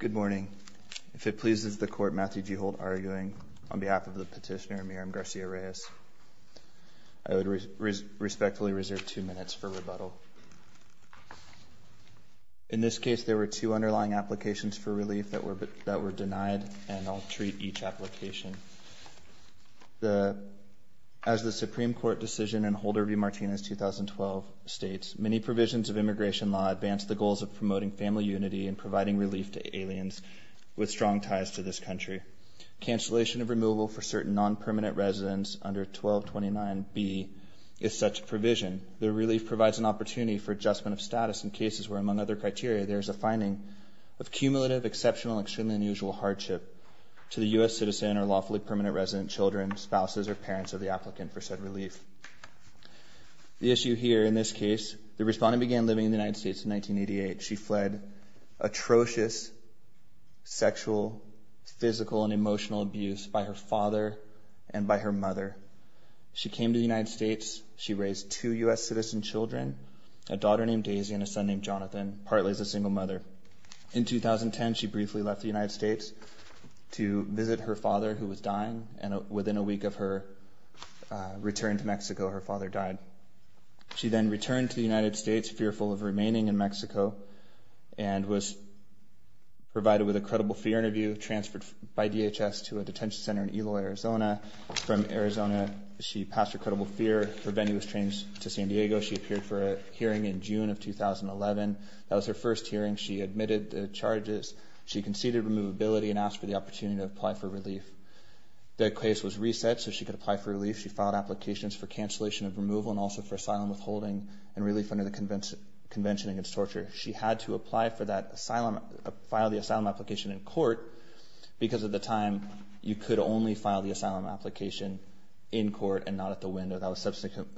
Good morning. If it pleases the Court, Matthew G. Holt arguing on behalf of the petitioner, Miriam Garcia-Reyes. I would respectfully reserve two minutes for rebuttal. In this case, there were two underlying applications for relief that were denied, and I'll treat each application. As the Supreme Court decision in Holder v. Martinez, 2012, states, many provisions of immigration law advance the goals of promoting family unity and providing relief to aliens with strong ties to this country. Cancellation of removal for certain non-permanent residents under 1229B is such a provision. The relief provides an opportunity for adjustment of status in cases where, among other criteria, there is a finding of cumulative, exceptional, extremely unusual hardship to the U.S. citizen or lawfully permanent resident, children, spouses, or parents of the applicant for said relief. The issue here in this case, the respondent began living in the United States in 1988. She fled atrocious sexual, physical, and emotional abuse by her father and by her mother. She came to the United States. She raised two U.S. citizen children, a daughter named Daisy and a son named Jonathan, partly as a single mother. In 2010, she briefly left the United States to visit her father, who was dying, and within a week of her return to Mexico, her father died. She then returned to the United States, fearful of remaining in Mexico, and was provided with a credible fear interview, transferred by DHS to a detention center in Eloy, Arizona. From Arizona, she passed her credible fear. Her venue was changed to San Diego. She appeared for a hearing in June of 2011. That was her first hearing. She admitted the charges. She conceded removability and asked for the opportunity to apply for relief. The case was reset so she could apply for relief. She filed applications for cancellation of removal and also for asylum withholding and relief under the Convention Against Torture. She had to apply for that asylum, file the asylum application in court because at the time, you could only file the asylum application in court and not at the window. That was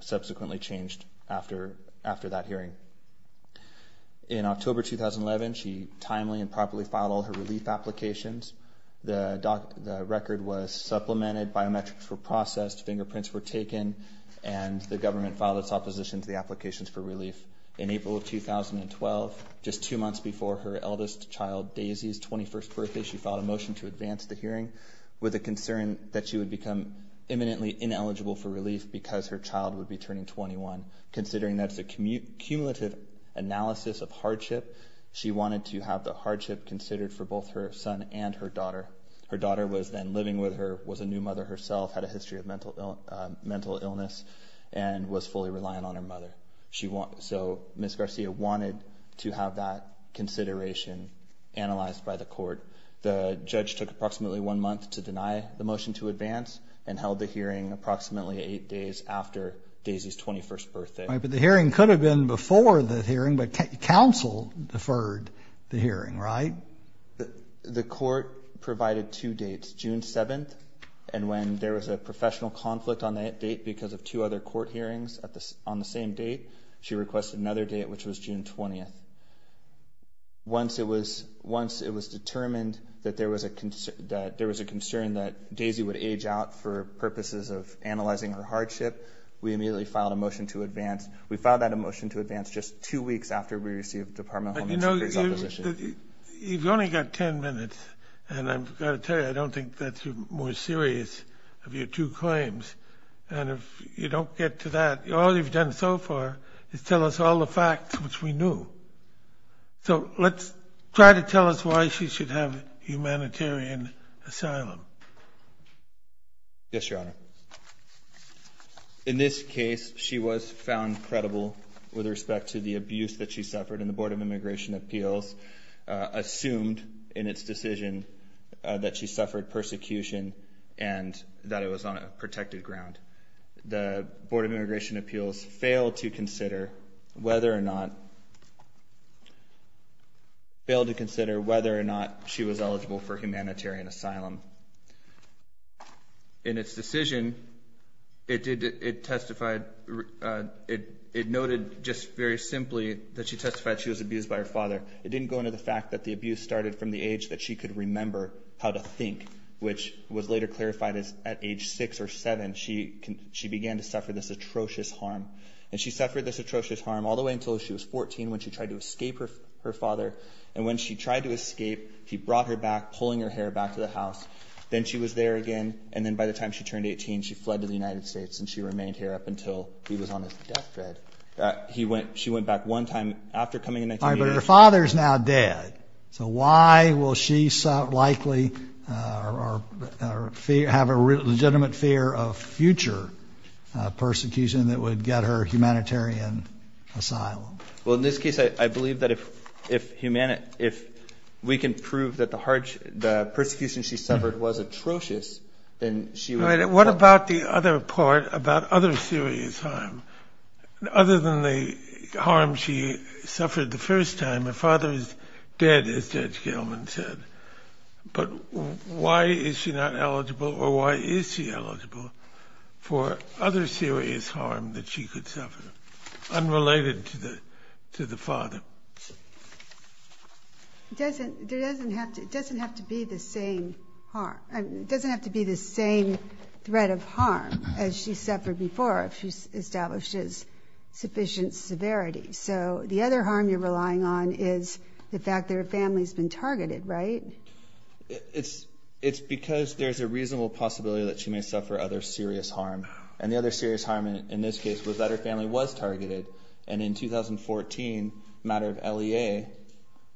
subsequently changed after that hearing. In October 2011, she timely and properly filed all her relief applications. The record was supplemented, biometrics were processed, fingerprints were taken, and the government filed its opposition to the applications for relief. In April of 2012, just two months before her eldest child Daisy's 21st birthday, she filed a motion to advance the hearing with a concern that she would become imminently ineligible for relief because her child would be turning 21. Considering that's a cumulative analysis of hardship, she wanted to have the hardship considered for both her son and her daughter. Her daughter was then living with her, was a new mother herself, had a history of mental illness, and was fully reliant on her mother. So Ms. Garcia wanted to have that consideration analyzed by the court. The judge took approximately one month to deny the motion to advance and held the hearing approximately eight days after Daisy's 21st birthday. But the hearing could have been before the hearing, but counsel deferred the hearing, right? The court provided two dates, June 7th and when there was a professional conflict on that date because of two other court hearings on the same date, she requested another date, which was June 20th. Once it was determined that there was a concern that Daisy would age out for purposes of analyzing her hardship, we immediately filed a motion to advance. We filed that motion to advance just two weeks after we received the Department of Homeland Security's opposition. You've only got ten minutes, and I've got to tell you, I don't think that's more serious of your two claims. And if you don't get to that, all you've done so far is tell us all the facts which we knew. So let's try to tell us why she should have humanitarian asylum. Yes, Your Honor. In this case, she was found credible with respect to the abuse that she suffered, and the Board of Immigration Appeals assumed in its decision that she suffered persecution and that it was on a protected ground. The Board of Immigration Appeals failed to consider whether or not she was eligible for humanitarian asylum. In its decision, it noted just very simply that she testified she was abused by her father. It didn't go into the fact that the abuse started from the age that she could remember how to think, which was later clarified as at age six or seven, she began to suffer this atrocious harm. And she suffered this atrocious harm all the way until she was 14 when she tried to escape her father. And when she tried to escape, he brought her back, pulling her hair back to the house. Then she was there again, and then by the time she turned 18, she fled to the United States, and she remained here up until he was on his deathbed. She went back one time after coming in 1918. All right, but her father is now dead. So why will she likely have a legitimate fear of future persecution that would get her humanitarian asylum? Well, in this case, I believe that if we can prove that the persecution she suffered was atrocious, then she would— What about the other part, about other serious harm? Other than the harm she suffered the first time, her father is dead, as Judge Gilman said. But why is she not eligible, or why is she eligible for other serious harm that she could suffer unrelated to the father? It doesn't have to be the same threat of harm as she suffered before if she establishes sufficient severity. So the other harm you're relying on is the fact that her family has been targeted, right? It's because there's a reasonable possibility that she may suffer other serious harm. And the other serious harm in this case was that her family was targeted, and in 2014, a matter of LEA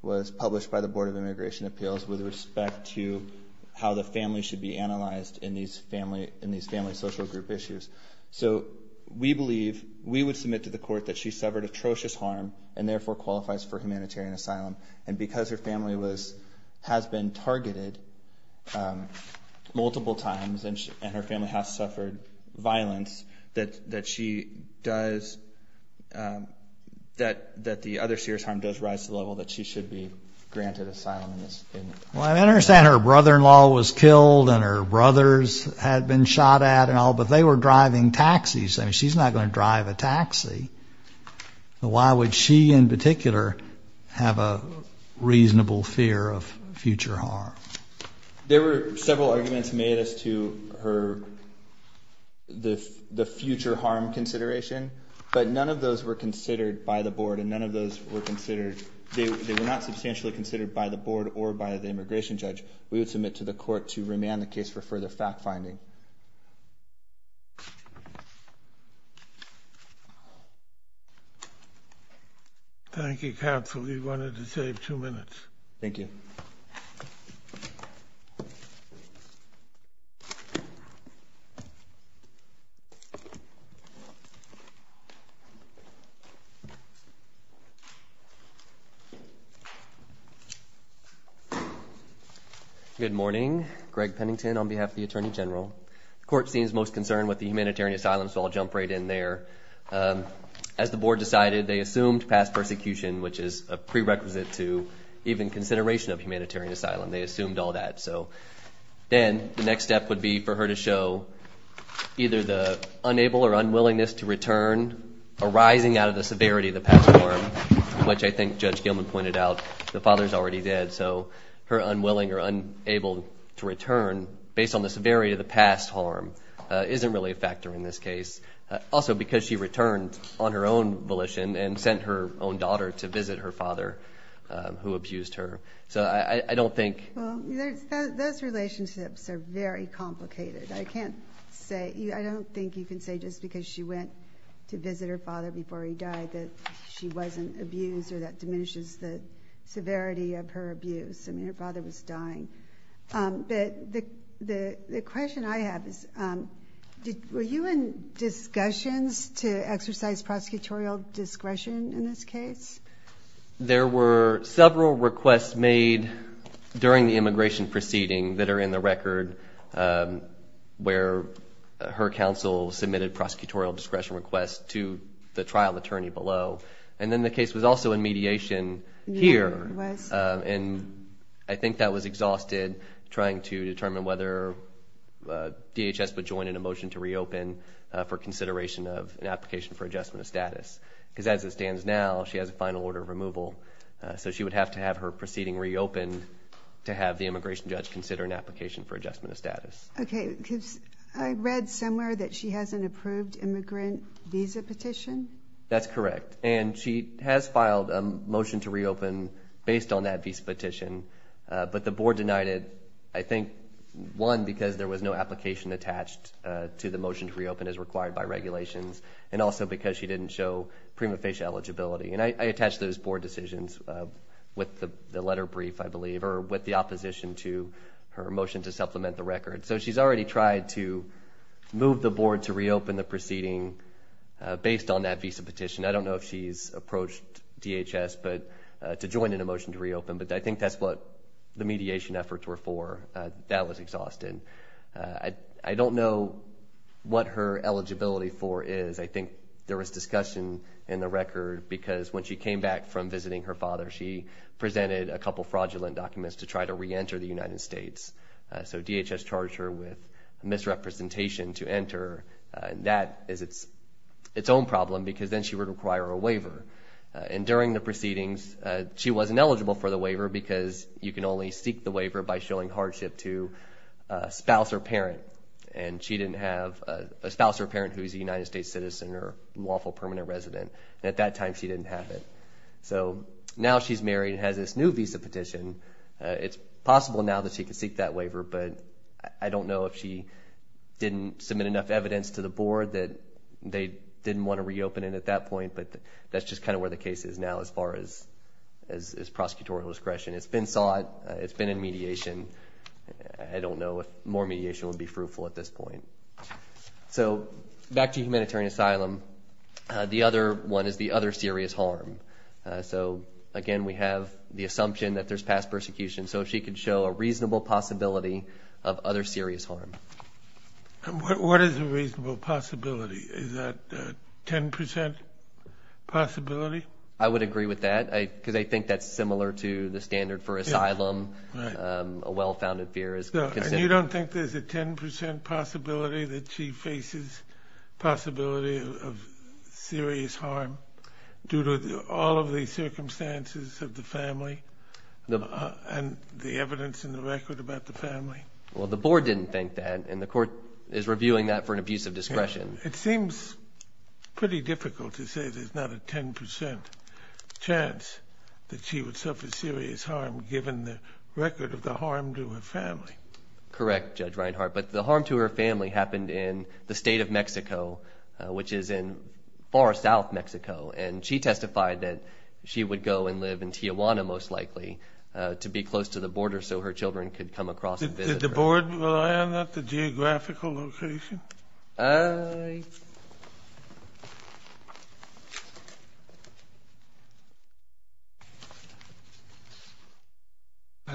was published by the Board of Immigration Appeals with respect to how the family should be analyzed in these family social group issues. So we believe—we would submit to the court that she suffered atrocious harm and therefore qualifies for humanitarian asylum. And because her family has been targeted multiple times and her family has suffered violence, that the other serious harm does rise to the level that she should be granted asylum. Well, I understand her brother-in-law was killed and her brothers had been shot at and all, but they were driving taxis. I mean, she's not going to drive a taxi. Why would she in particular have a reasonable fear of future harm? There were several arguments made as to her—the future harm consideration, but none of those were considered by the board and none of those were considered— they were not substantially considered by the board or by the immigration judge. We would submit to the court to remand the case for further fact-finding. Thank you, counsel. We wanted to save two minutes. Thank you. Good morning. Greg Pennington on behalf of the Attorney General. The court seems most concerned with the humanitarian asylum, so I'll jump right in there. As the board decided, they assumed past persecution, which is a prerequisite to even consideration of humanitarian asylum. They assumed all that. So then the next step would be for her to show either the unable or unwillingness to return arising out of the severity of the past harm, which I think Judge Gilman pointed out, the father's already dead, so her unwilling or unable to return based on the severity of the past harm isn't really a factor in this case. Also because she returned on her own volition and sent her own daughter to visit her father who abused her. So I don't think— Those relationships are very complicated. I can't say—I don't think you can say just because she went to visit her father before he died that she wasn't abused or that diminishes the severity of her abuse. I mean, her father was dying. But the question I have is were you in discussions to exercise prosecutorial discretion in this case? There were several requests made during the immigration proceeding that are in the record where her counsel submitted prosecutorial discretion requests to the trial attorney below. And then the case was also in mediation here. It was. And I think that was exhausted trying to determine whether DHS would join in a motion to reopen for consideration of an application for adjustment of status. Because as it stands now, she has a final order of removal. So she would have to have her proceeding reopened to have the immigration judge consider an application for adjustment of status. Okay. I read somewhere that she has an approved immigrant visa petition. That's correct. And she has filed a motion to reopen based on that visa petition. But the board denied it, I think, one, because there was no application attached to the motion to reopen as required by regulations, and also because she didn't show prima facie eligibility. And I attach those board decisions with the letter brief, I believe, or with the opposition to her motion to supplement the record. So she's already tried to move the board to reopen the proceeding based on that visa petition. I don't know if she's approached DHS to join in a motion to reopen, but I think that's what the mediation efforts were for. That was exhausted. I don't know what her eligibility for is. I think there was discussion in the record because when she came back from visiting her father, she presented a couple fraudulent documents to try to reenter the United States. So DHS charged her with misrepresentation to enter. That is its own problem because then she would require a waiver. And during the proceedings, she wasn't eligible for the waiver because you can only seek the waiver by showing hardship to a spouse or parent. And she didn't have a spouse or parent who is a United States citizen or lawful permanent resident. At that time, she didn't have it. So now she's married and has this new visa petition. It's possible now that she can seek that waiver, but I don't know if she didn't submit enough evidence to the board that they didn't want to reopen it at that point. But that's just kind of where the case is now as far as prosecutorial discretion. It's been sought. It's been in mediation. I don't know if more mediation would be fruitful at this point. So back to humanitarian asylum, the other one is the other serious harm. So, again, we have the assumption that there's past persecution. So if she could show a reasonable possibility of other serious harm. What is a reasonable possibility? Is that 10 percent possibility? I would agree with that because I think that's similar to the standard for asylum a well-founded fear is considered. You don't think there's a 10 percent possibility that she faces possibility of serious harm due to all of the circumstances of the family and the evidence in the record about the family? Well, the board didn't think that, and the court is reviewing that for an abuse of discretion. It seems pretty difficult to say there's not a 10 percent chance that she would suffer serious harm given the record of the harm to her family. Correct, Judge Reinhart. But the harm to her family happened in the state of Mexico, which is in far south Mexico, and she testified that she would go and live in Tijuana most likely to be close to the border so her children could come across and visit her. Did the board rely on that, the geographical location?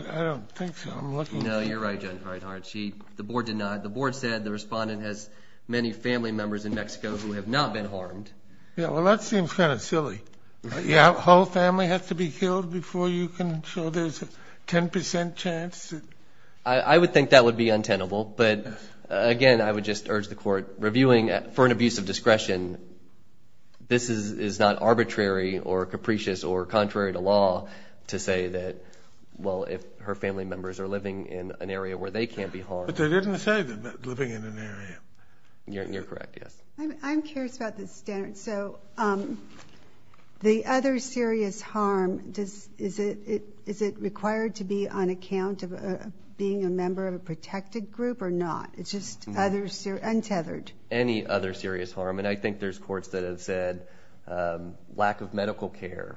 I don't think so. No, you're right, Judge Reinhart. The board did not. The board said the respondent has many family members in Mexico who have not been harmed. Well, that seems kind of silly. The whole family has to be killed before you can show there's a 10 percent chance? I would think that would be untenable, but, again, I would just urge the court, reviewing for an abuse of discretion, this is not arbitrary or capricious or contrary to law to say that, well, if her family members are living in an area where they can't be harmed. But they didn't say they're living in an area. You're correct, yes. I'm curious about the standard. So the other serious harm, is it required to be on account of being a member of a protected group or not? It's just untethered. Any other serious harm, and I think there's courts that have said lack of medical care.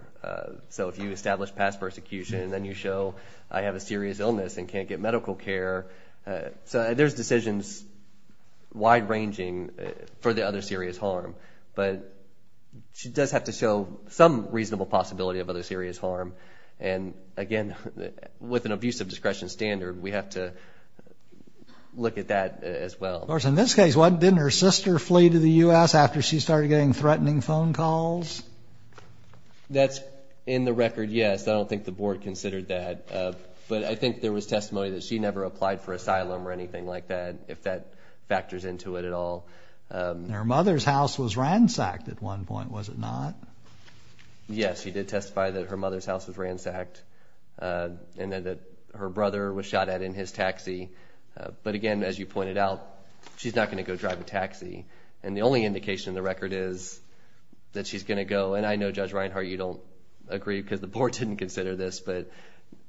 So if you establish past persecution and then you show I have a serious illness and can't get medical care, there's decisions wide ranging for the other serious harm. But she does have to show some reasonable possibility of other serious harm. And, again, with an abuse of discretion standard, we have to look at that as well. In this case, didn't her sister flee to the U.S. after she started getting threatening phone calls? That's in the record, yes. I don't think the board considered that. But I think there was testimony that she never applied for asylum or anything like that, if that factors into it at all. Her mother's house was ransacked at one point, was it not? Yes, she did testify that her mother's house was ransacked and that her brother was shot at in his taxi. But, again, as you pointed out, she's not going to go drive a taxi. And the only indication in the record is that she's going to go, and I know, Judge Reinhart, you don't agree because the board didn't consider this, but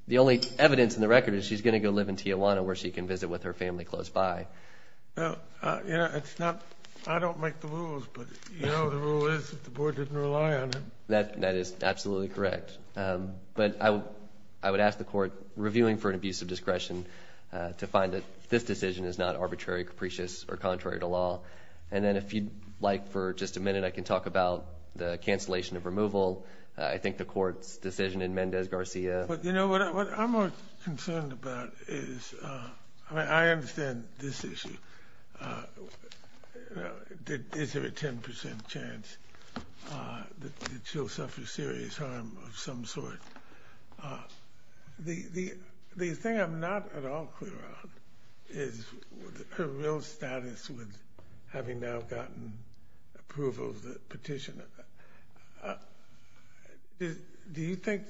the only evidence in the record is she's going to go live in Tijuana where she can visit with her family close by. I don't make the rules, but you know the rule is that the board didn't rely on it. That is absolutely correct. But I would ask the court, reviewing for an abuse of discretion, to find that this decision is not arbitrary, capricious, or contrary to law. And then if you'd like, for just a minute, I can talk about the cancellation of removal, I think the court's decision in Mendez-Garcia. But, you know, what I'm more concerned about is, I mean, I understand this issue. Is there a 10% chance that she'll suffer serious harm of some sort? The thing I'm not at all clear on is her real status with having now gotten approval of the petition. Do you think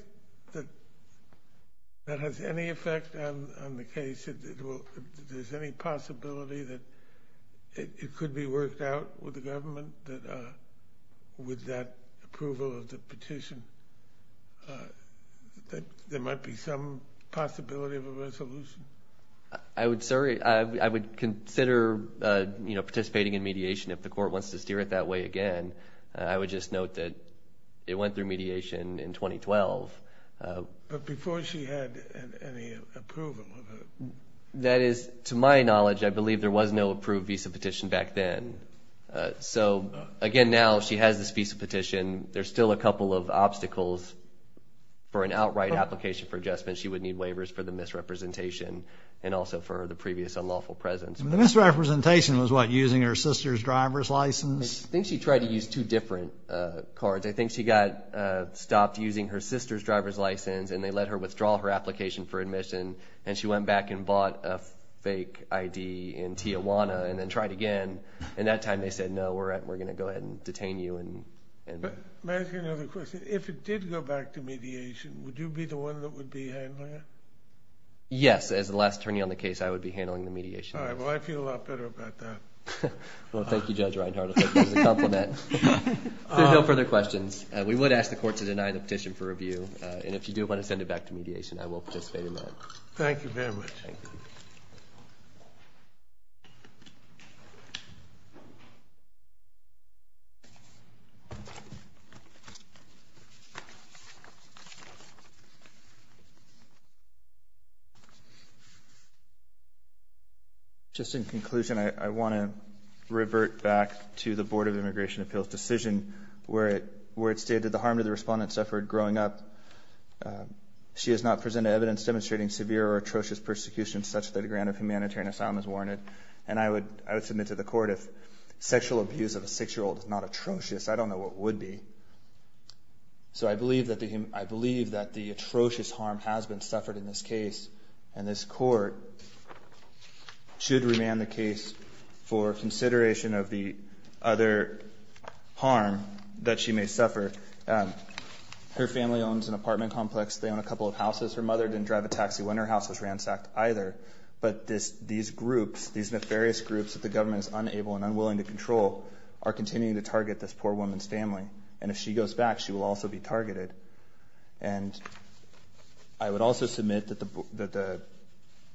that has any effect on the case? Is there any possibility that it could be worked out with the government with that approval of the petition? There might be some possibility of a resolution. I would consider participating in mediation if the court wants to steer it that way again. I would just note that it went through mediation in 2012. But before she had any approval of it? That is, to my knowledge, I believe there was no approved visa petition back then. So, again, now she has this visa petition. There's still a couple of obstacles. For an outright application for adjustment, she would need waivers for the misrepresentation and also for the previous unlawful presence. The misrepresentation was what, using her sister's driver's license? I think she tried to use two different cards. I think she got stopped using her sister's driver's license, and they let her withdraw her application for admission, and she went back and bought a fake ID in Tijuana and then tried again. And that time they said, no, we're going to go ahead and detain you. May I ask you another question? If it did go back to mediation, would you be the one that would be handling it? Yes, as the last attorney on the case, I would be handling the mediation. All right, well, I feel a lot better about that. Well, thank you, Judge Reinhart. I think that's a compliment. If there are no further questions, we would ask the court to deny the petition for review. And if you do want to send it back to mediation, I will participate in that. Thank you very much. Thank you. Thank you. Just in conclusion, I want to revert back to the Board of Immigration Appeals decision where it stated the harm to the respondent suffered growing up. She has not presented evidence demonstrating severe or atrocious persecution such that a grant of humanitarian asylum is warranted. And I would submit to the court if sexual abuse of a six-year-old is not atrocious, I don't know what would be. So I believe that the atrocious harm has been suffered in this case, and this court should remand the case for consideration of the other harm that she may suffer. Her family owns an apartment complex. They own a couple of houses. Her mother didn't drive a taxi when her house was ransacked either. But these groups, these nefarious groups that the government is unable and unwilling to control are continuing to target this poor woman's family. And if she goes back, she will also be targeted. And I would also submit that the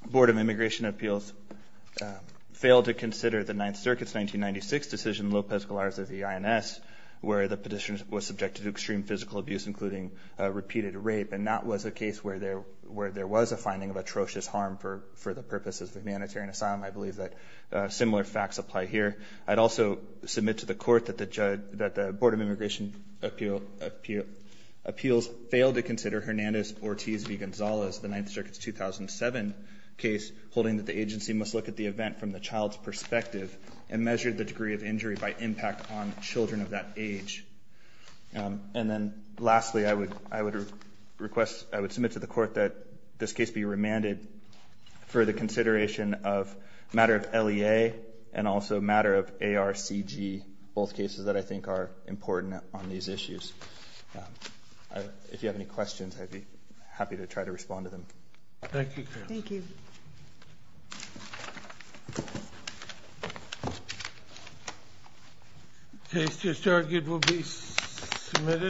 Board of Immigration Appeals failed to consider the Ninth Circuit's 1996 decision, Lopez-Galarza v. INS, where the petitioner was subjected to extreme physical abuse, including repeated rape. And that was a case where there was a finding of atrocious harm for the purposes of humanitarian asylum. I believe that similar facts apply here. I'd also submit to the court that the Board of Immigration Appeals failed to consider Hernandez-Ortiz v. Gonzalez, the Ninth Circuit's 2007 case, holding that the agency must look at the event from the child's perspective and measure the degree of injury by impact on children of that age. And then lastly, I would submit to the court that this case be remanded for the consideration of matter of LEA and also matter of ARCG, both cases that I think are important on these issues. If you have any questions, I'd be happy to try to respond to them. Thank you, Carol. Thank you.